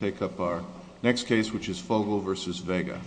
take up our next case which is Fogel v. Vega.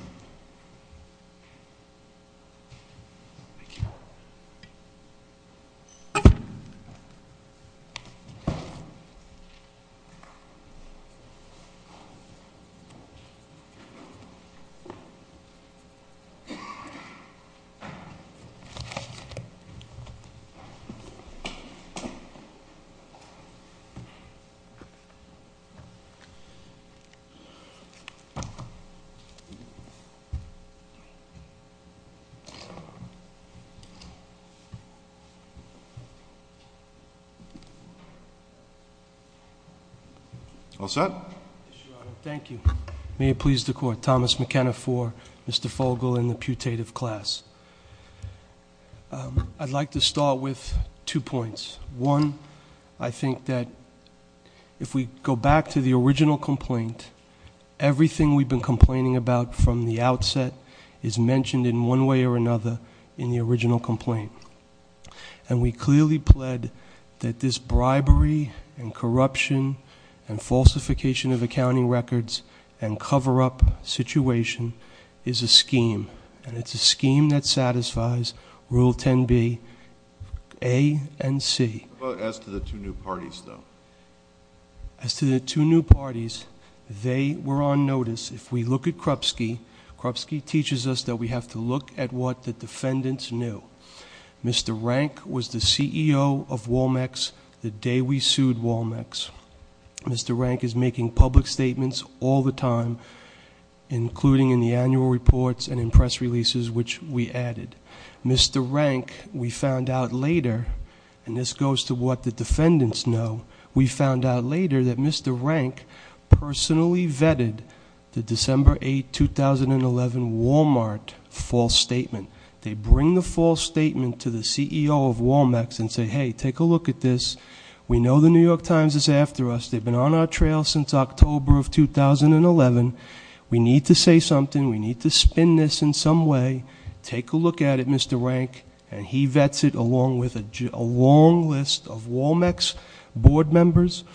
All set? Thank you. May it please the court, Thomas McKenna for Mr. Fogel and the putative class. I'd like to start with two points. One, I think that if we go back to the original complaint everything we've been complaining about from the outset is mentioned in one way or another in the original complaint. And we clearly pled that this bribery and corruption and falsification of accounting records and cover-up situation is a scheme. And it's a scheme that satisfies Rule 10b, A and C. As to the two new parties, though? As to the two new parties, they were on notice. If we look at Krupsky, Krupsky teaches us that we have to look at what the defendants knew. Mr. Rank was the CEO of Walmex the day we sued Walmex. Mr. Rank is making public statements all the time including in the annual reports and in press releases which we added. Mr. Rank, we found out later, and this goes to what the defendants know, we found out later that Mr. Rank personally vetted the December 8, 2011 Walmart false statement. They bring the false statement to the CEO of Walmex and say, hey, take a look at this. We know the New York Times is after us. They've been on our trail since October of 2011. We need to say something. We need to spin this in some way. Take a look at it, Mr. Rank. And he vets it along with a long list of Walmex board members,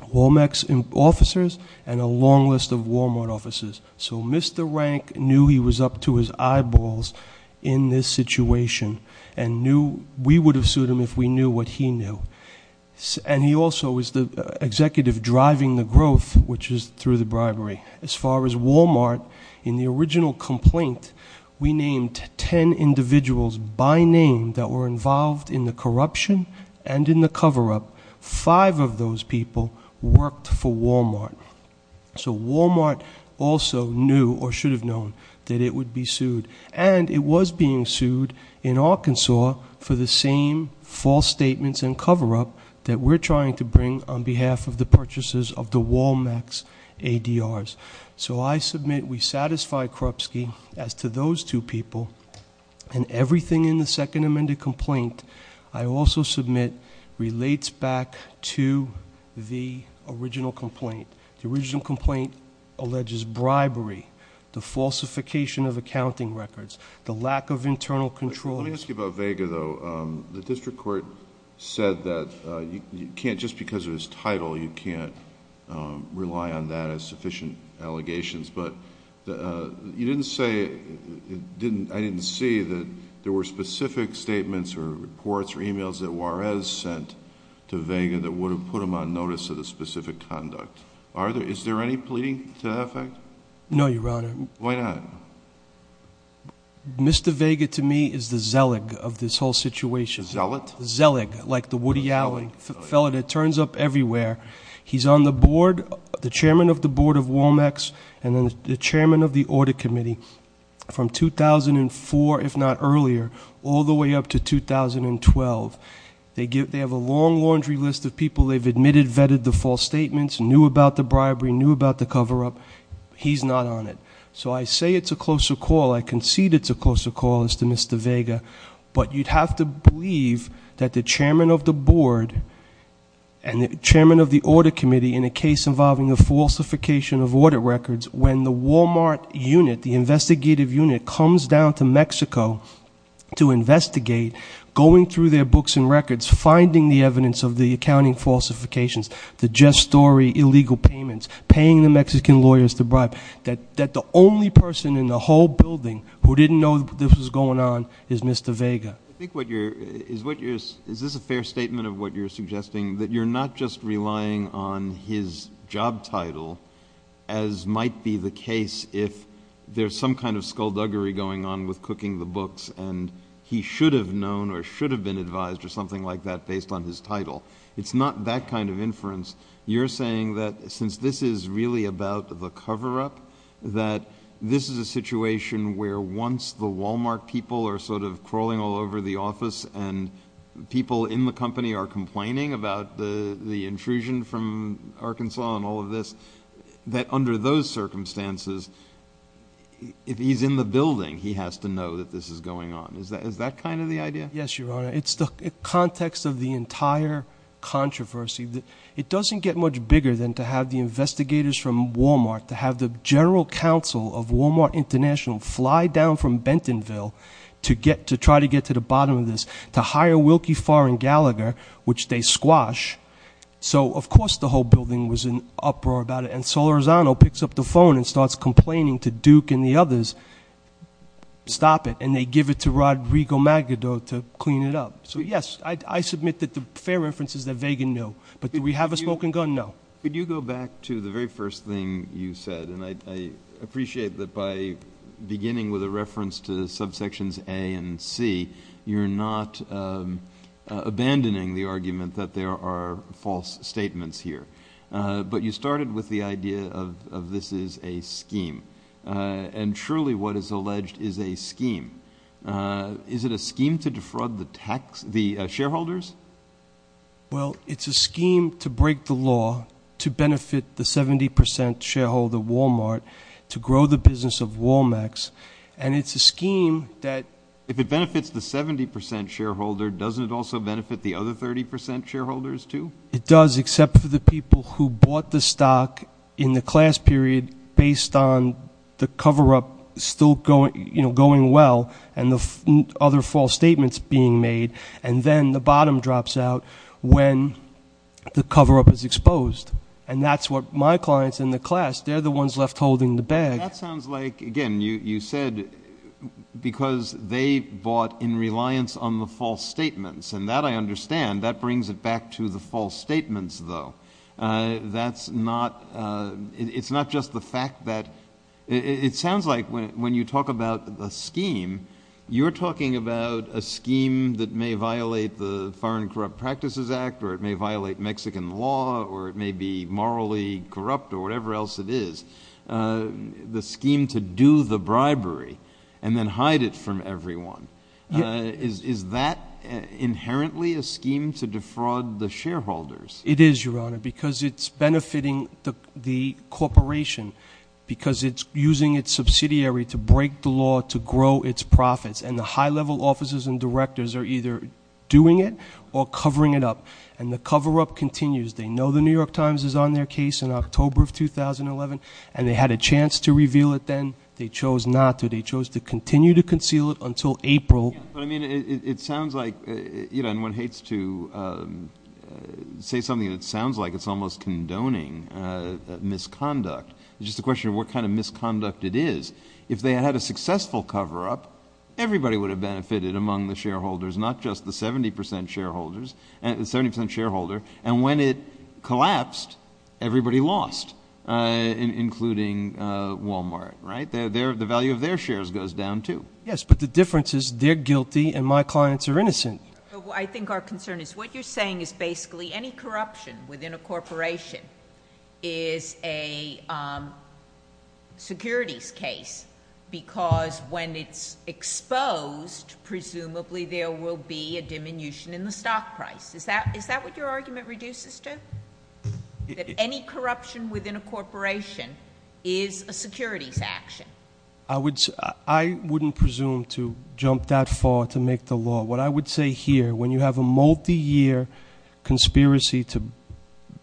Walmex officers, and a long list of Walmart officers. So Mr. Rank knew he was up to his eyeballs in this situation and knew we would have sued him if we knew what he knew. And he also is the executive driving the growth which is through the bribery. As far as Walmart, in the original complaint, we named 10 individuals by name that were involved in the corruption and in the cover-up. Five of those people worked for Walmart. So Walmart also knew or should have known that it would be sued. And it was being sued in Arkansas for the same false statements and cover-up that we're trying to bring on behalf of the purchasers of the Walmex ADRs. So I submit we satisfy Krupsky as to those two people. And everything in the second amended complaint I also submit relates back to the original complaint. The original complaint alleges bribery, the falsification of accounting records, the lack of internal control... Let me ask you about Vega, though. The district court said that you can't just because of his title, you can't rely on that as sufficient allegations. But you didn't say... I didn't see that there were specific statements or reports or e-mails that Juarez sent to Vega that would have put him on notice of the specific conduct. Is there any pleading to that effect? No, Your Honor. Why not? Mr. Vega, to me, is the zealot of this whole situation. Zealot? Zealot, like the Woody Allen fellow that turns up everywhere. He's on the board, the chairman of the board of Walmex and the chairman of the audit committee from 2004, if not earlier, all the way up to 2012. They have a long laundry list of people they've admitted vetted the false statements, knew about the bribery, knew about the cover-up. He's not on it. So I say it's a closer call. I concede it's a closer call as to Mr. Vega. But you'd have to believe that the chairman of the board and the chairman of the audit committee in a case involving the falsification of audit records, when the Walmart unit, the investigative unit comes down to Mexico to investigate, going through their books and records, finding the evidence of the accounting falsifications, the just story, illegal payments, paying the Mexican lawyers to bribe, that the only person in the whole building who didn't know this was going on is Mr. Vega. I think what you're... Is this a fair statement of what you're suggesting? That you're not just relying on his job title, as might be the case if there's some kind of skullduggery going on with cooking the books and he should have known or should have been advised or something like that based on his title. It's not that kind of inference. You're saying that since this is really about the cover-up, that this is a situation where once the Walmart people are sort of crawling all over the office and people in the company are complaining about the intrusion from Arkansas and all of this, that under those circumstances, if he's in the building, he has to know that this is going on. Is that kind of the idea? Yes, Your Honor. It's the context of the entire controversy. It doesn't get much bigger than to have the investigators from Walmart, to have the general counsel of Walmart International fly down from Bentonville to try to get to the bottom of this, to hire Wilkie Farr and Gallagher, which they squash. So of course the whole building was in uproar about it. And Solorzano picks up the phone and starts complaining to Duke and the others, stop it. And they give it to Rodrigo Magado to clean it up. So yes, I submit that the fair inference is that Vega knew. But do we have a smoking gun? No. Could you go back to the very first thing you said? And I appreciate that by beginning with a reference to subsections A and C, you're not abandoning the argument that there are false statements here. But you started with the idea of this is a scheme. And truly what is alleged is a scheme. Is it a scheme to defraud the shareholders? Well, it's a scheme to break the law, to benefit the 70% shareholder of Walmart, to grow the business of Wal-Macs. And it's a scheme that... If it benefits the 70% shareholder, doesn't it also benefit the other 30% shareholders too? It does, except for the people who bought the stock in the class period based on the minimum drops out when the cover-up is exposed. And that's what my clients in the class, they're the ones left holding the bag. That sounds like, again, you said because they bought in reliance on the false statements. And that I understand. That brings it back to the false statements though. That's not... It's not just the fact that... It sounds like when you talk about a scheme, you're talking about a scheme that may violate the Foreign Corrupt Practices Act or it may violate Mexican law or it may be morally corrupt or whatever else it is. The scheme to do the bribery and then hide it from everyone. Is that inherently a scheme to defraud the shareholders? It is, Your Honor, because it's benefiting the corporation because it's using its subsidiary to break the law to grow its profits. And the high-level officers and directors are either doing it or covering it up. And the cover-up continues. They know the New York Times is on their case in October of 2011 and they had a chance to reveal it then. They chose not to. They chose to continue to conceal it until April. But I mean, it sounds like... And one hates to say something that sounds like it's almost a crime. If they had had a successful cover-up, everybody would have benefited among the shareholders, not just the 70% shareholder. And when it collapsed, everybody lost, including Walmart. The value of their shares goes down too. Yes, but the difference is they're guilty and my clients are innocent. I think our concern is what you're saying is basically any corruption within a corporation is a securities case because when it's exposed, presumably there will be a diminution in the stock price. Is that what your argument reduces to? That any corruption within a corporation is a securities action? I wouldn't presume to jump that far to make the law. What I would say here, when you have a multi-year conspiracy to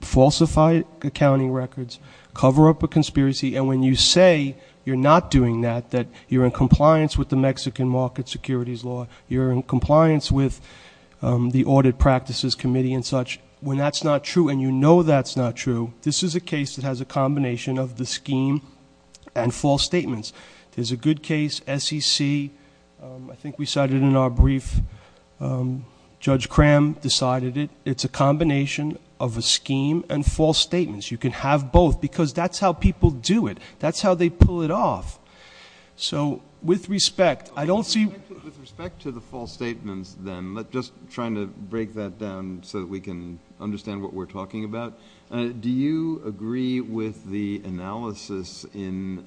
falsify accounting records, cover up a conspiracy, and when you say you're not doing that, that you're in compliance with the Mexican market securities law, you're in compliance with the Audit Practices Committee and such, when that's not true and you know that's not true, this is a case that has a combination of the scheme and false statements. There's a good case, SEC, I think we cited in our brief, Judge Cram decided it, it's a combination of a scheme and false statements. You can have both because that's how people do it. That's how they pull it off. So with respect, I don't see- With respect to the false statements then, just trying to break that down so that we can understand what we're talking about, do you agree with the analysis in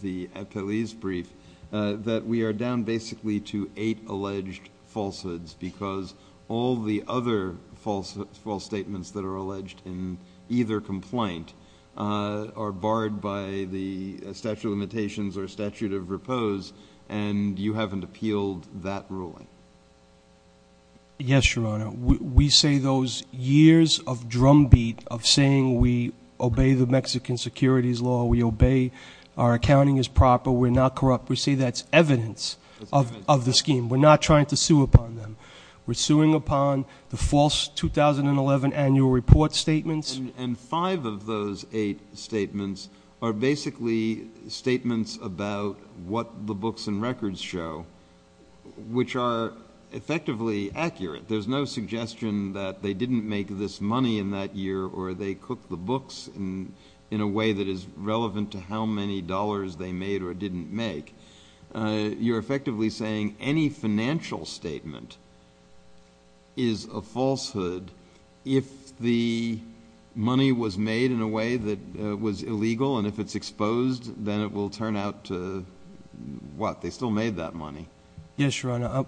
the Epeliz brief that we are down basically to eight alleged falsehoods because all the other false statements that are alleged in either complaint are barred by the statute of limitations or statute of repose, and you haven't appealed that ruling? Yes, Your Honor. We say those years of drumbeat of saying we obey the Mexican securities law, we obey, our accounting is proper, we're not corrupt, we say that's evidence of the scheme. We're not trying to sue upon them. We're suing upon the false 2011 annual report statements. And five of those eight statements are basically statements about what the books and records show, which are effectively accurate. There's no suggestion that they didn't make this money in that year or they cooked the books in a way that is relevant to how many dollars they made or didn't make. You're effectively saying any financial statement is a falsehood if the money was made in a way that was illegal and if it's exposed, then it will turn out to, what, they still made that money? Yes, Your Honor.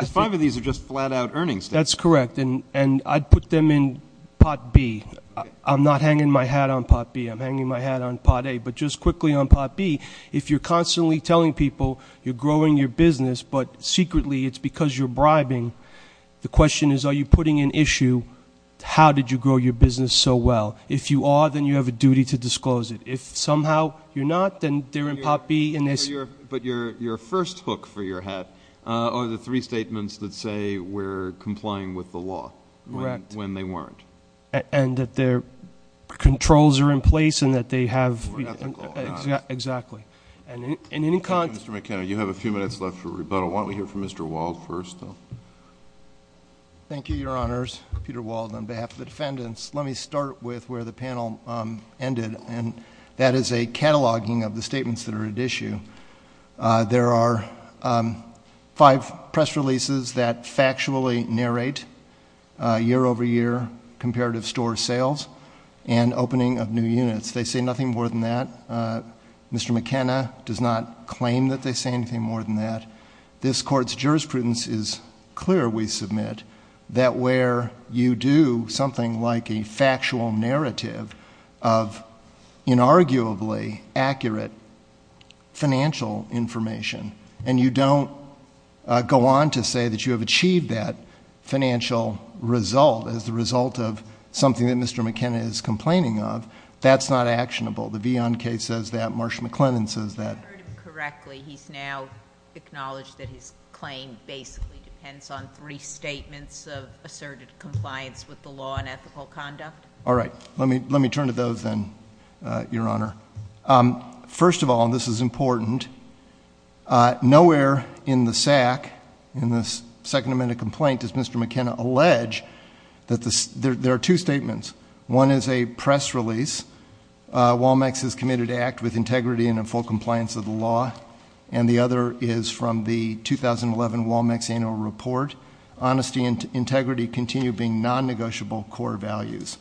The five of these are just flat out earnings statements. That's correct, and I'd put them in Pot B. I'm not hanging my hat on Pot B, I'm hanging my hat on Pot A. But just quickly on Pot B, if you're constantly telling people you're growing your business but secretly it's because you're bribing, the question is are you putting an issue, how did you grow your business so well? If you are, then you have a duty to somehow, if you're not, then they're in Pot B. But your first hook for your hat are the three statements that say we're complying with the law when they weren't. Correct, and that their controls are in place and that they have... We're ethical, aren't we? Exactly, and in any... Mr. McKenna, you have a few minutes left for rebuttal. Why don't we hear from Mr. Wald first? Thank you, Your Honors. Peter Wald on behalf of the defendants. Let me start with where the panel ended, and that is a cataloging of the statements that are at issue. There are five press releases that factually narrate year-over-year comparative store sales and opening of new units. They say nothing more than that. Mr. McKenna does not claim that they say anything more than that. This Court's jurisprudence is clear, we submit, that where you do something like a factual narrative of inarguably accurate financial information, and you don't go on to say that you have achieved that financial result as the result of something that Mr. McKenna is complaining of, that's not actionable. The Vion case says that, Marsha McLennan says that. You've heard him correctly. He's now acknowledged that his claim basically depends on three statements of asserted compliance with the law and ethical conduct. All right. Let me turn to those then, Your Honor. First of all, and this is important, nowhere in the SAC, in this Second Amendment complaint, does Mr. McKenna allege that there are two statements. One is a press release, Walmex is committed to act with integrity and in full compliance with the law, and the other is from the 2011 Walmex Annual Report, honesty and integrity continue being non-negotiable core values.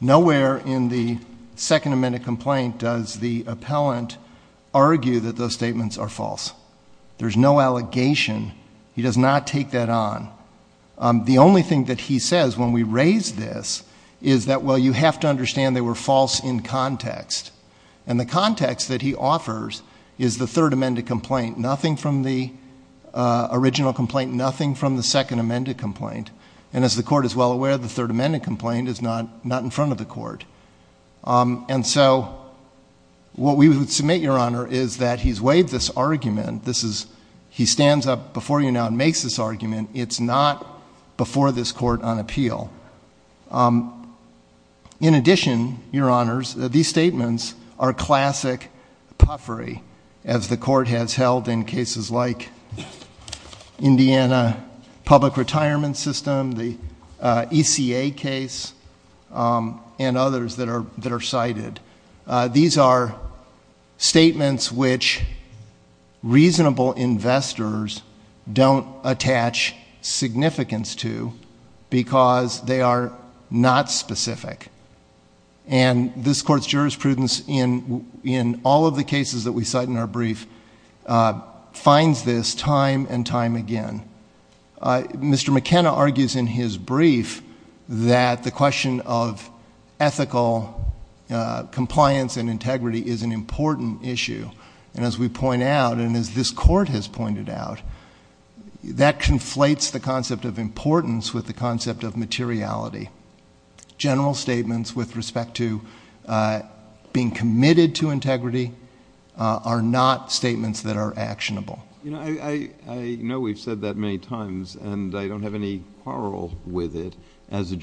Nowhere in the Second Amendment complaint does the appellant argue that those statements are false. There's no allegation. He does not take that on. The only thing that he says when we raise this is that, well, you have to understand they were false in the complaint, nothing from the original complaint, nothing from the Second Amendment complaint. And as the Court is well aware, the Third Amendment complaint is not in front of the Court. And so what we would submit, Your Honor, is that he's waived this argument. He stands up before you now and makes this argument. It's not before this Court on appeal. In addition, Your Honors, these statements are classic puffery, as the Court has held in cases like Indiana Public Retirement System, the ECA case, and others that are cited. These are statements which reasonable investors don't attach significance to because they are not specific. And this Court's jurisprudence in all of the cases that we cite in our brief finds this time and time again. Mr. McKenna argues in his brief that the question of ethical compliance and integrity is an important issue. And as we point out, and as this Court has pointed out, that conflates the concept of importance with the concept of materiality. General statements with respect to being committed to integrity are not statements that are actionable. You know, I know we've said that many times, and I don't have any quarrel with it, as a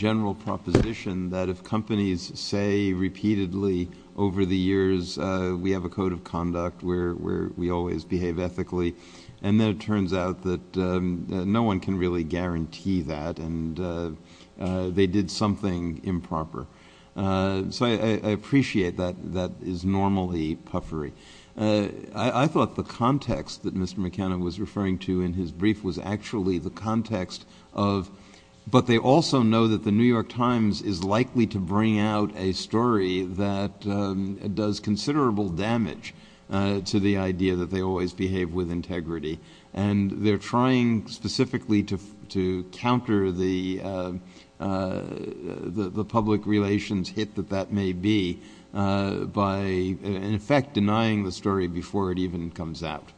repeatedly over the years, we have a code of conduct where we always behave ethically. And then it turns out that no one can really guarantee that, and they did something improper. So I appreciate that that is normally puffery. I thought the context that Mr. McKenna was referring to in his brief was actually the context of, but they also know that the New York Times has a story that does considerable damage to the idea that they always behave with integrity. And they're trying specifically to counter the public relations hit that that may be by, in effect, denying the story before it even comes out.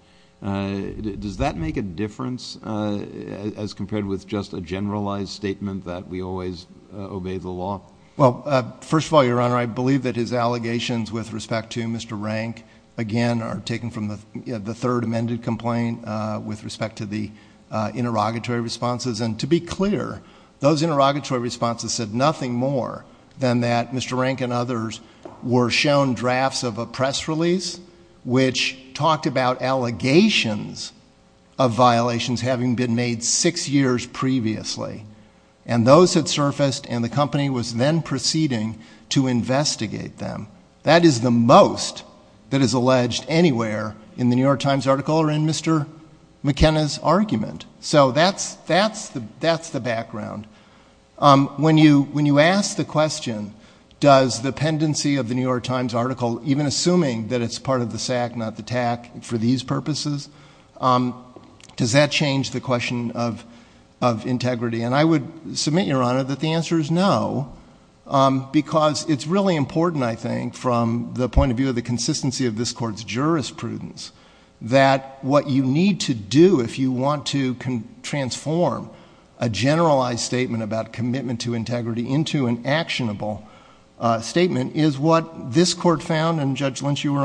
Does that make a difference as compared with just a generalized statement that we always obey the law? Well, first of all, Your Honor, I believe that his allegations with respect to Mr. Rank, again, are taken from the third amended complaint with respect to the interrogatory responses. And to be clear, those interrogatory responses said nothing more than that Mr. Rank and others were shown drafts of a press release which talked about allegations of violations having been made six years previously. And those had surfaced, and the company was then proceeding to investigate them. That is the most that is alleged anywhere in the New York Times article or in Mr. McKenna's argument. So that's the background. When you ask the question, does the pendency of the New York Times article, even assuming that it's part of the SAC, not the TAC, for these purposes, does that change the question of integrity? And I would submit, Your Honor, that the answer is no, because it's really important, I think, from the point of view of the consistency of this Court's jurisprudence, that what you need to do if you want to transform a generalized statement about commitment to a company, and you were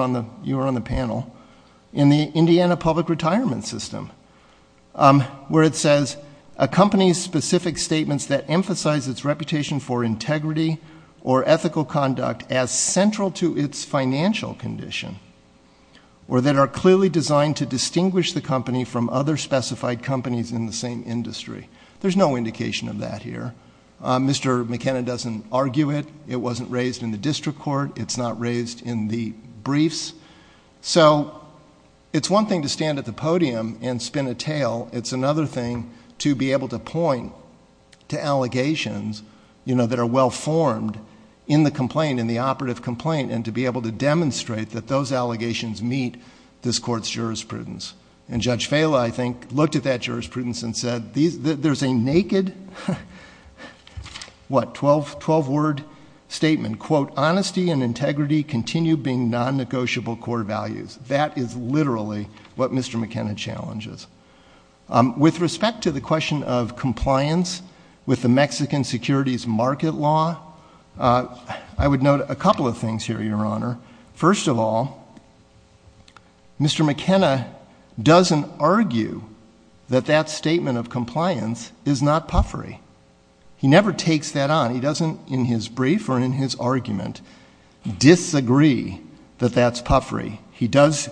on the panel, in the Indiana public retirement system, where it says, a company's specific statements that emphasize its reputation for integrity or ethical conduct as central to its financial condition, or that are clearly designed to distinguish the company from other specified companies in the same industry. There's no indication of that here. Mr. McKenna doesn't argue it. It wasn't raised in the district court. It's not raised in the briefs. So it's one thing to stand at the podium and spin a tale. It's another thing to be able to point to allegations, you know, that are well formed in the complaint, in the operative complaint, and to be able to demonstrate that those allegations meet this Court's jurisprudence. And Judge Fala, I think, looked at that jurisprudence and said, there's a naked, what, 12-word statement, quote, honesty and integrity continue being non-negotiable core values. That is literally what Mr. McKenna challenges. With respect to the question of compliance with the Mexican securities market law, I would note a couple of things here, Your Honor. First of all, Mr. McKenna doesn't argue that that statement of compliance is not puffery. He never takes that on. He doesn't, in his brief or in his argument, disagree that that's puffery. He does,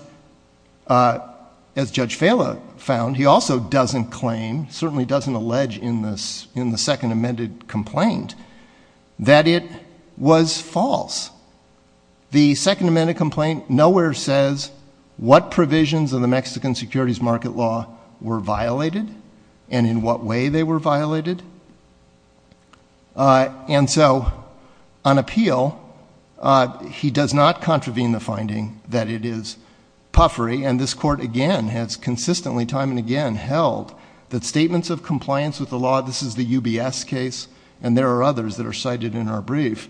as Judge Fala found, he also doesn't claim, certainly doesn't allege in the second amended complaint, that it was false. The second amended complaint nowhere says what provisions of the Mexican securities market law were violated and in what way they were violated. And so on appeal, he does not contravene the finding that it is puffery. And this Court, again, has consistently, time and again, held that statements of compliance with the law, this is the UBS case, and there are others that are cited in our brief,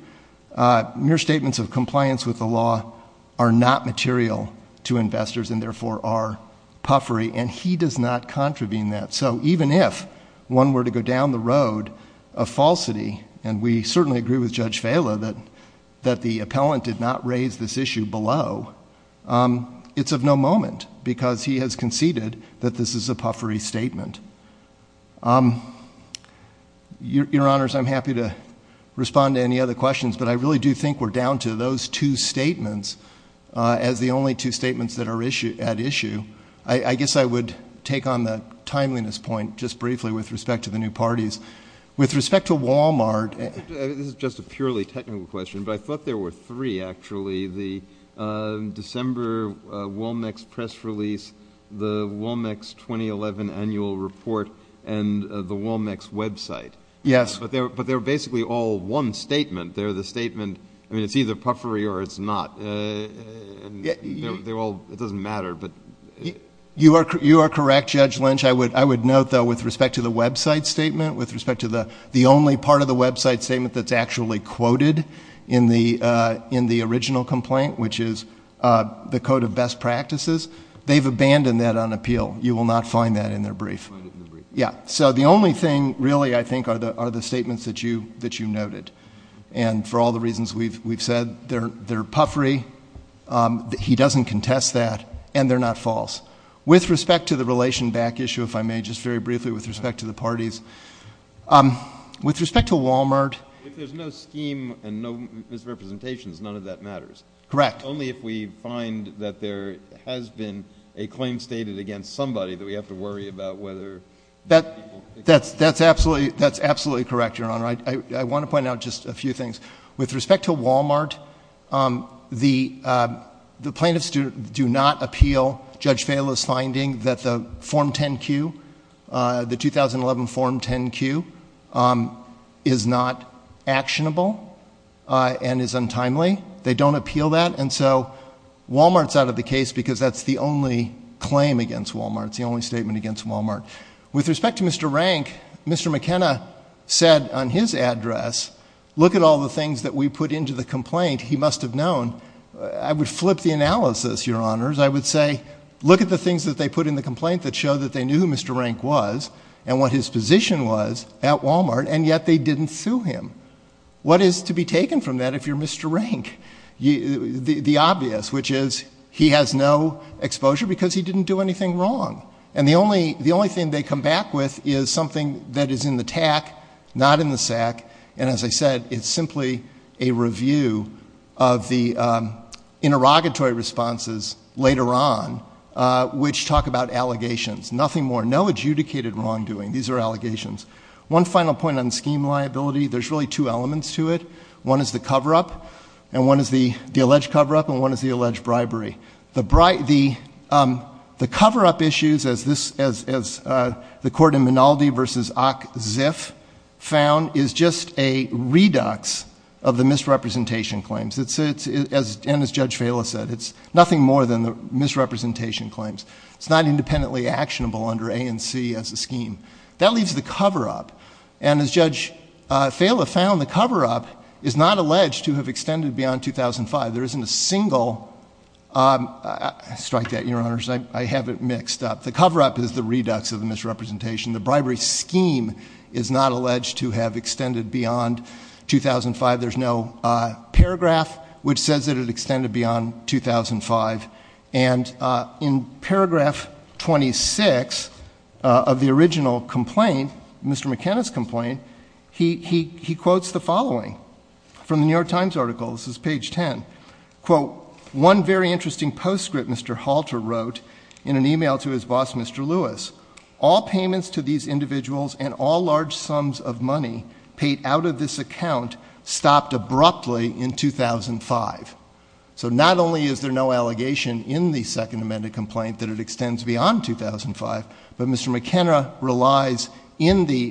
mere statements of compliance with the law are not material to investors and therefore are puffery. And he does not contravene that. So even if one were to go down the road of falsity, and we certainly agree with Judge Fala that the appellant did not raise this issue below, it's of no moment because he has conceded that this is a puffery statement. Your Honors, I'm happy to respond to any other questions, but I really do think we're down to those two statements as the only two statements that are at issue. I guess I would take on that timeliness point just briefly with respect to the new parties. With respect to Wal-Mart. This is just a purely technical question, but I thought there were three actually, the December Womex press release, the Womex 2011 annual report, and the Womex website. But they're basically all one statement. They're the statement, I mean it's either puffery or it's not. They're all, it doesn't matter. You are correct, Judge Lynch. I would note though with respect to the website statement, with respect to the only part of the website statement that's actually quoted in the original complaint, which is the code of best practices, they've abandoned that on appeal. You will not find that in their brief. So the only thing really, I think, are the statements that you noted. And for all the reasons we've said, they're puffery, he doesn't contest that, and they're not false. With respect to the relation back issue, if I may, just very briefly with respect to the parties. With respect to Wal-Mart. If there's no scheme and no misrepresentations, none of that matters. Correct. Only if we find that there has been a claim stated against somebody that we have to worry about whether people think it's true. That's absolutely correct, Your Honor. I want to point out just a few things. With respect to Wal-Mart, the plaintiffs do not appeal Judge Vaila's finding that the Form 10-Q, the 2011 Form 10-Q is not actionable and is untimely. They don't appeal that. And so Wal-Mart is out of the case because that's the only claim against Wal-Mart. It's the only statement against Wal-Mart. With respect to Mr. Rank, Mr. McKenna said on his address, look at all the things that we put into the complaint, he must have known. I would flip the analysis, Your Honors. I would say, look at the things that they put in the complaint that show that they knew who Mr. Rank was and what his position was at Wal-Mart, and yet they didn't sue him. What is to be taken from that if you're Mr. Rank? The obvious, which is he has no exposure because he didn't do anything wrong. And the only thing they come back with is something that is in the TAC, not in the SAC, and as I said, it's simply a review of the interrogatory responses later on, which talk about allegations. Nothing more. No adjudicated wrongdoing. These are allegations. One final point on scheme liability. There's really two elements to it. One is the cover-up, and one is the alleged cover-up, and one is the alleged bribery. The cover-up issues, as the Court in Minaldi v. Ock Ziff found, is just a redox of the misrepresentation claims. And as Judge Fala said, it's nothing more than the misrepresentation claims. It's not independently actionable under A and C as a scheme. That leaves the cover-up. And as Judge Fala found, the cover-up is not alleged to have extended beyond 2005. There isn't a single, I strike that, Your Honors, I have it mixed up. The cover-up is the redox of the misrepresentation. The bribery scheme is not alleged to have extended beyond 2005. There's no paragraph which says that it extended beyond 2005. And in paragraph 26 of the original complaint, Mr. McKenna's complaint, he quotes the following from the New York Times article. This is page 10. Quote, one very interesting postscript Mr. Halter wrote in an email to his boss, Mr. Lewis. All payments to these individuals and all large sums of money paid out of this account stopped abruptly in 2005. So not only is there no allegation in the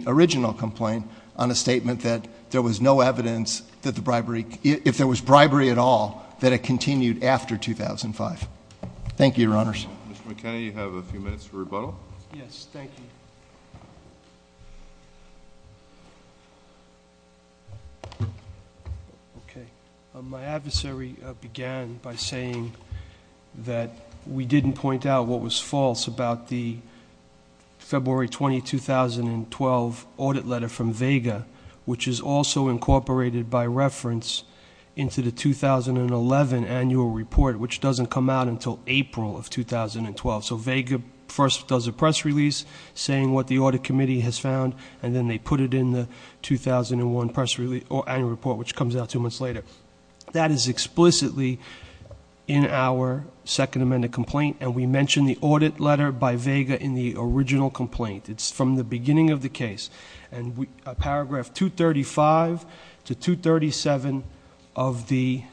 original complaint on a statement that there was no evidence that the bribery, if there was bribery at all, that it continued after 2005. Thank you, Your Honors. Mr. McKenna, you have a few minutes for rebuttal. Yes, thank you. Okay. My adversary began by saying that we didn't point out what was false about the February 20, 2012 audit letter from Vega, which is also incorporated by reference into the 2011 annual report, which doesn't come out until April of 2012. So Vega first does a press release saying what the audit committee has found, and then they put it in the 2001 annual report, which comes out two months later. That is explicitly in our second amended complaint, and we mention the audit letter by Vega in the original complaint. It's from the beginning of the case. And paragraph 235 to 237 of the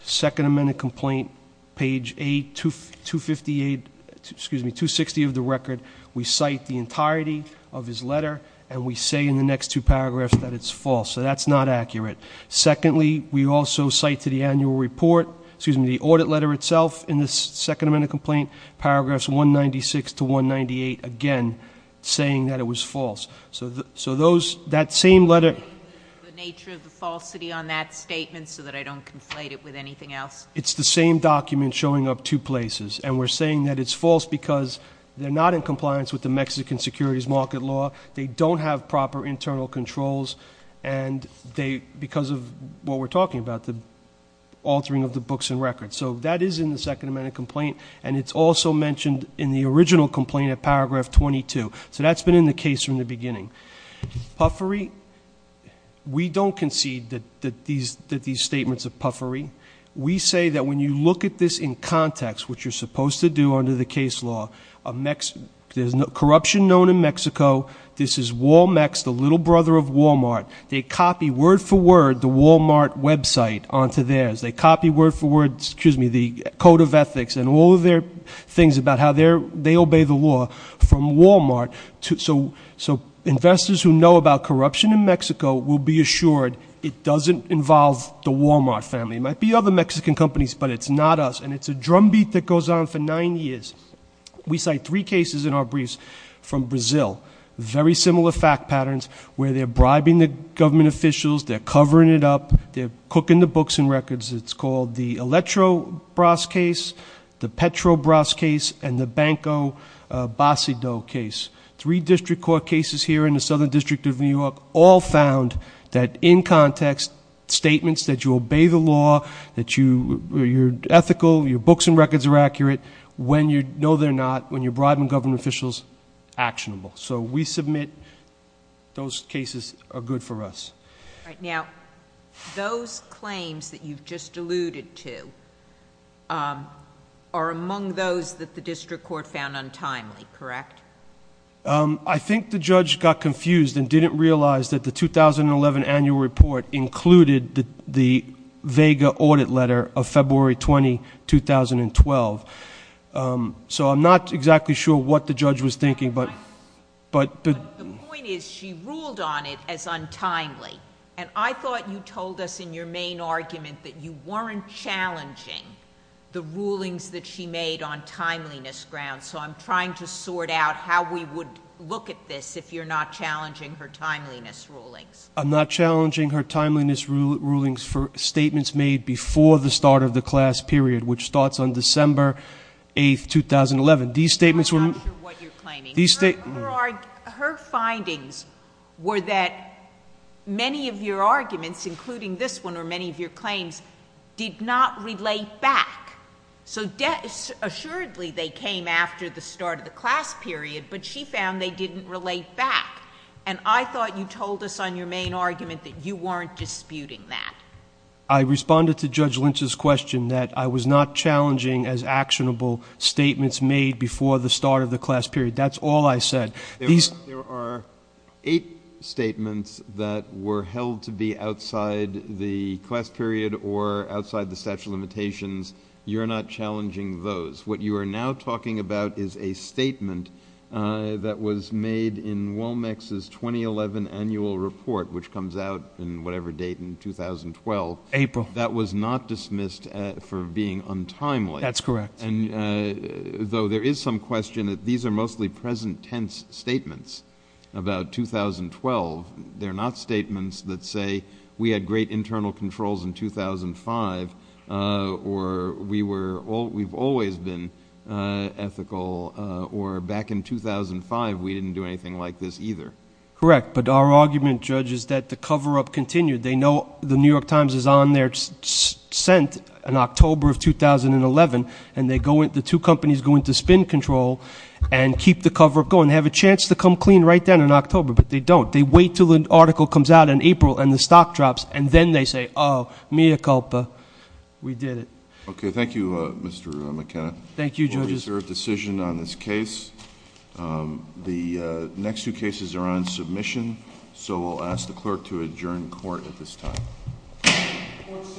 second amended complaint, page 8, 258, excuse me, 260 of the record, we cite the entirety of his letter, and we say in the next two paragraphs that it's false. So that's not accurate. Secondly, we also cite to the annual report, excuse me, the audit letter itself in the second amended complaint, paragraphs 196 to 198, again, saying that it was false. So those, that same letter The nature of the falsity on that statement so that I don't conflate it with anything else. It's the same document showing up two places, and we're saying that it's false because they're not in compliance with the Mexican securities market law. They don't have proper internal controls, and they, because of what we're talking about, the altering of the books and records. So that is in the second amended complaint, and it's also mentioned in the original complaint at paragraph 22. So that's been in the case from the beginning. Puffery, we don't concede that these statements are puffery. We say that when you look at this in context, which you're supposed to do under the case law, there's no corruption known in Mexico. This is Walmex, the little brother of Walmart. They copy word for word the Walmart website onto theirs. They copy word for word, excuse me, the code of ethics and all of their things about how they obey the law from Walmart. So investors who know about corruption in Mexico will be assured it doesn't involve the Walmart family. It might be other Mexican companies, but it's not us, and it's a drumbeat that goes on for nine years. We cite three cases in our briefs from Brazil, very similar fact patterns, where they're bribing the government officials, they're covering it up, they're cooking the books and records. It's called the Eletrobras case, the Petrobras case, and the Banco Bacido case. Three district court cases here in the Southern District of New York all found that in context, statements that you obey the law, that you're ethical, your books and records are accurate, when you know they're not, when you're bribing government officials, actionable. So we submit those cases are good for us. All right. Now, those claims that you've just alluded to are among those that the district court found untimely, correct? I think the judge got confused and didn't realize that the 2011 annual report included the vega audit letter of February 20, 2012. So I'm not exactly sure what the judge was thinking, but... The point is she ruled on it as untimely, and I thought you told us in your main argument that you weren't challenging the rulings that she made on timeliness grounds. So I'm trying to sort out how we would look at this if you're not challenging her timeliness rulings. I'm not challenging her timeliness rulings for statements made before the start of the class period, which starts on December 8, 2011. These statements were... I'm not sure what you're claiming. Her findings were that many of your arguments, including this one or many of your claims, did not relate back. So assuredly they came after the start of the class period, but she found they didn't relate back. And I thought you told us on your main argument that you weren't disputing that. I responded to Judge Lynch's question that I was not challenging as actionable statements made before the start of the class period. That's all I said. There are eight statements that were held to be outside the class period or outside the statute of limitations. You're not challenging those. What you are now talking about is a report, which comes out in whatever date in 2012... April.... that was not dismissed for being untimely. That's correct. Though there is some question that these are mostly present tense statements about 2012. They're not statements that say we had great internal controls in 2005 or we've always been ethical or back in 2005 we didn't do anything like this either. Correct. But our argument, Judge, is that the cover-up continued. They know the New York Times is on their scent in October of 2011 and the two companies go into spin control and keep the cover-up going. They have a chance to come clean right then in October, but they don't. They wait until an article comes out in April and the stock drops and then they say, oh, mea culpa, we did it. Okay. Thank you, Mr. McKenna. Thank you, Judges. We have a reserved decision on this case. The next two cases are on submission, so we'll ask the clerk to adjourn court at this time. Court is adjourned.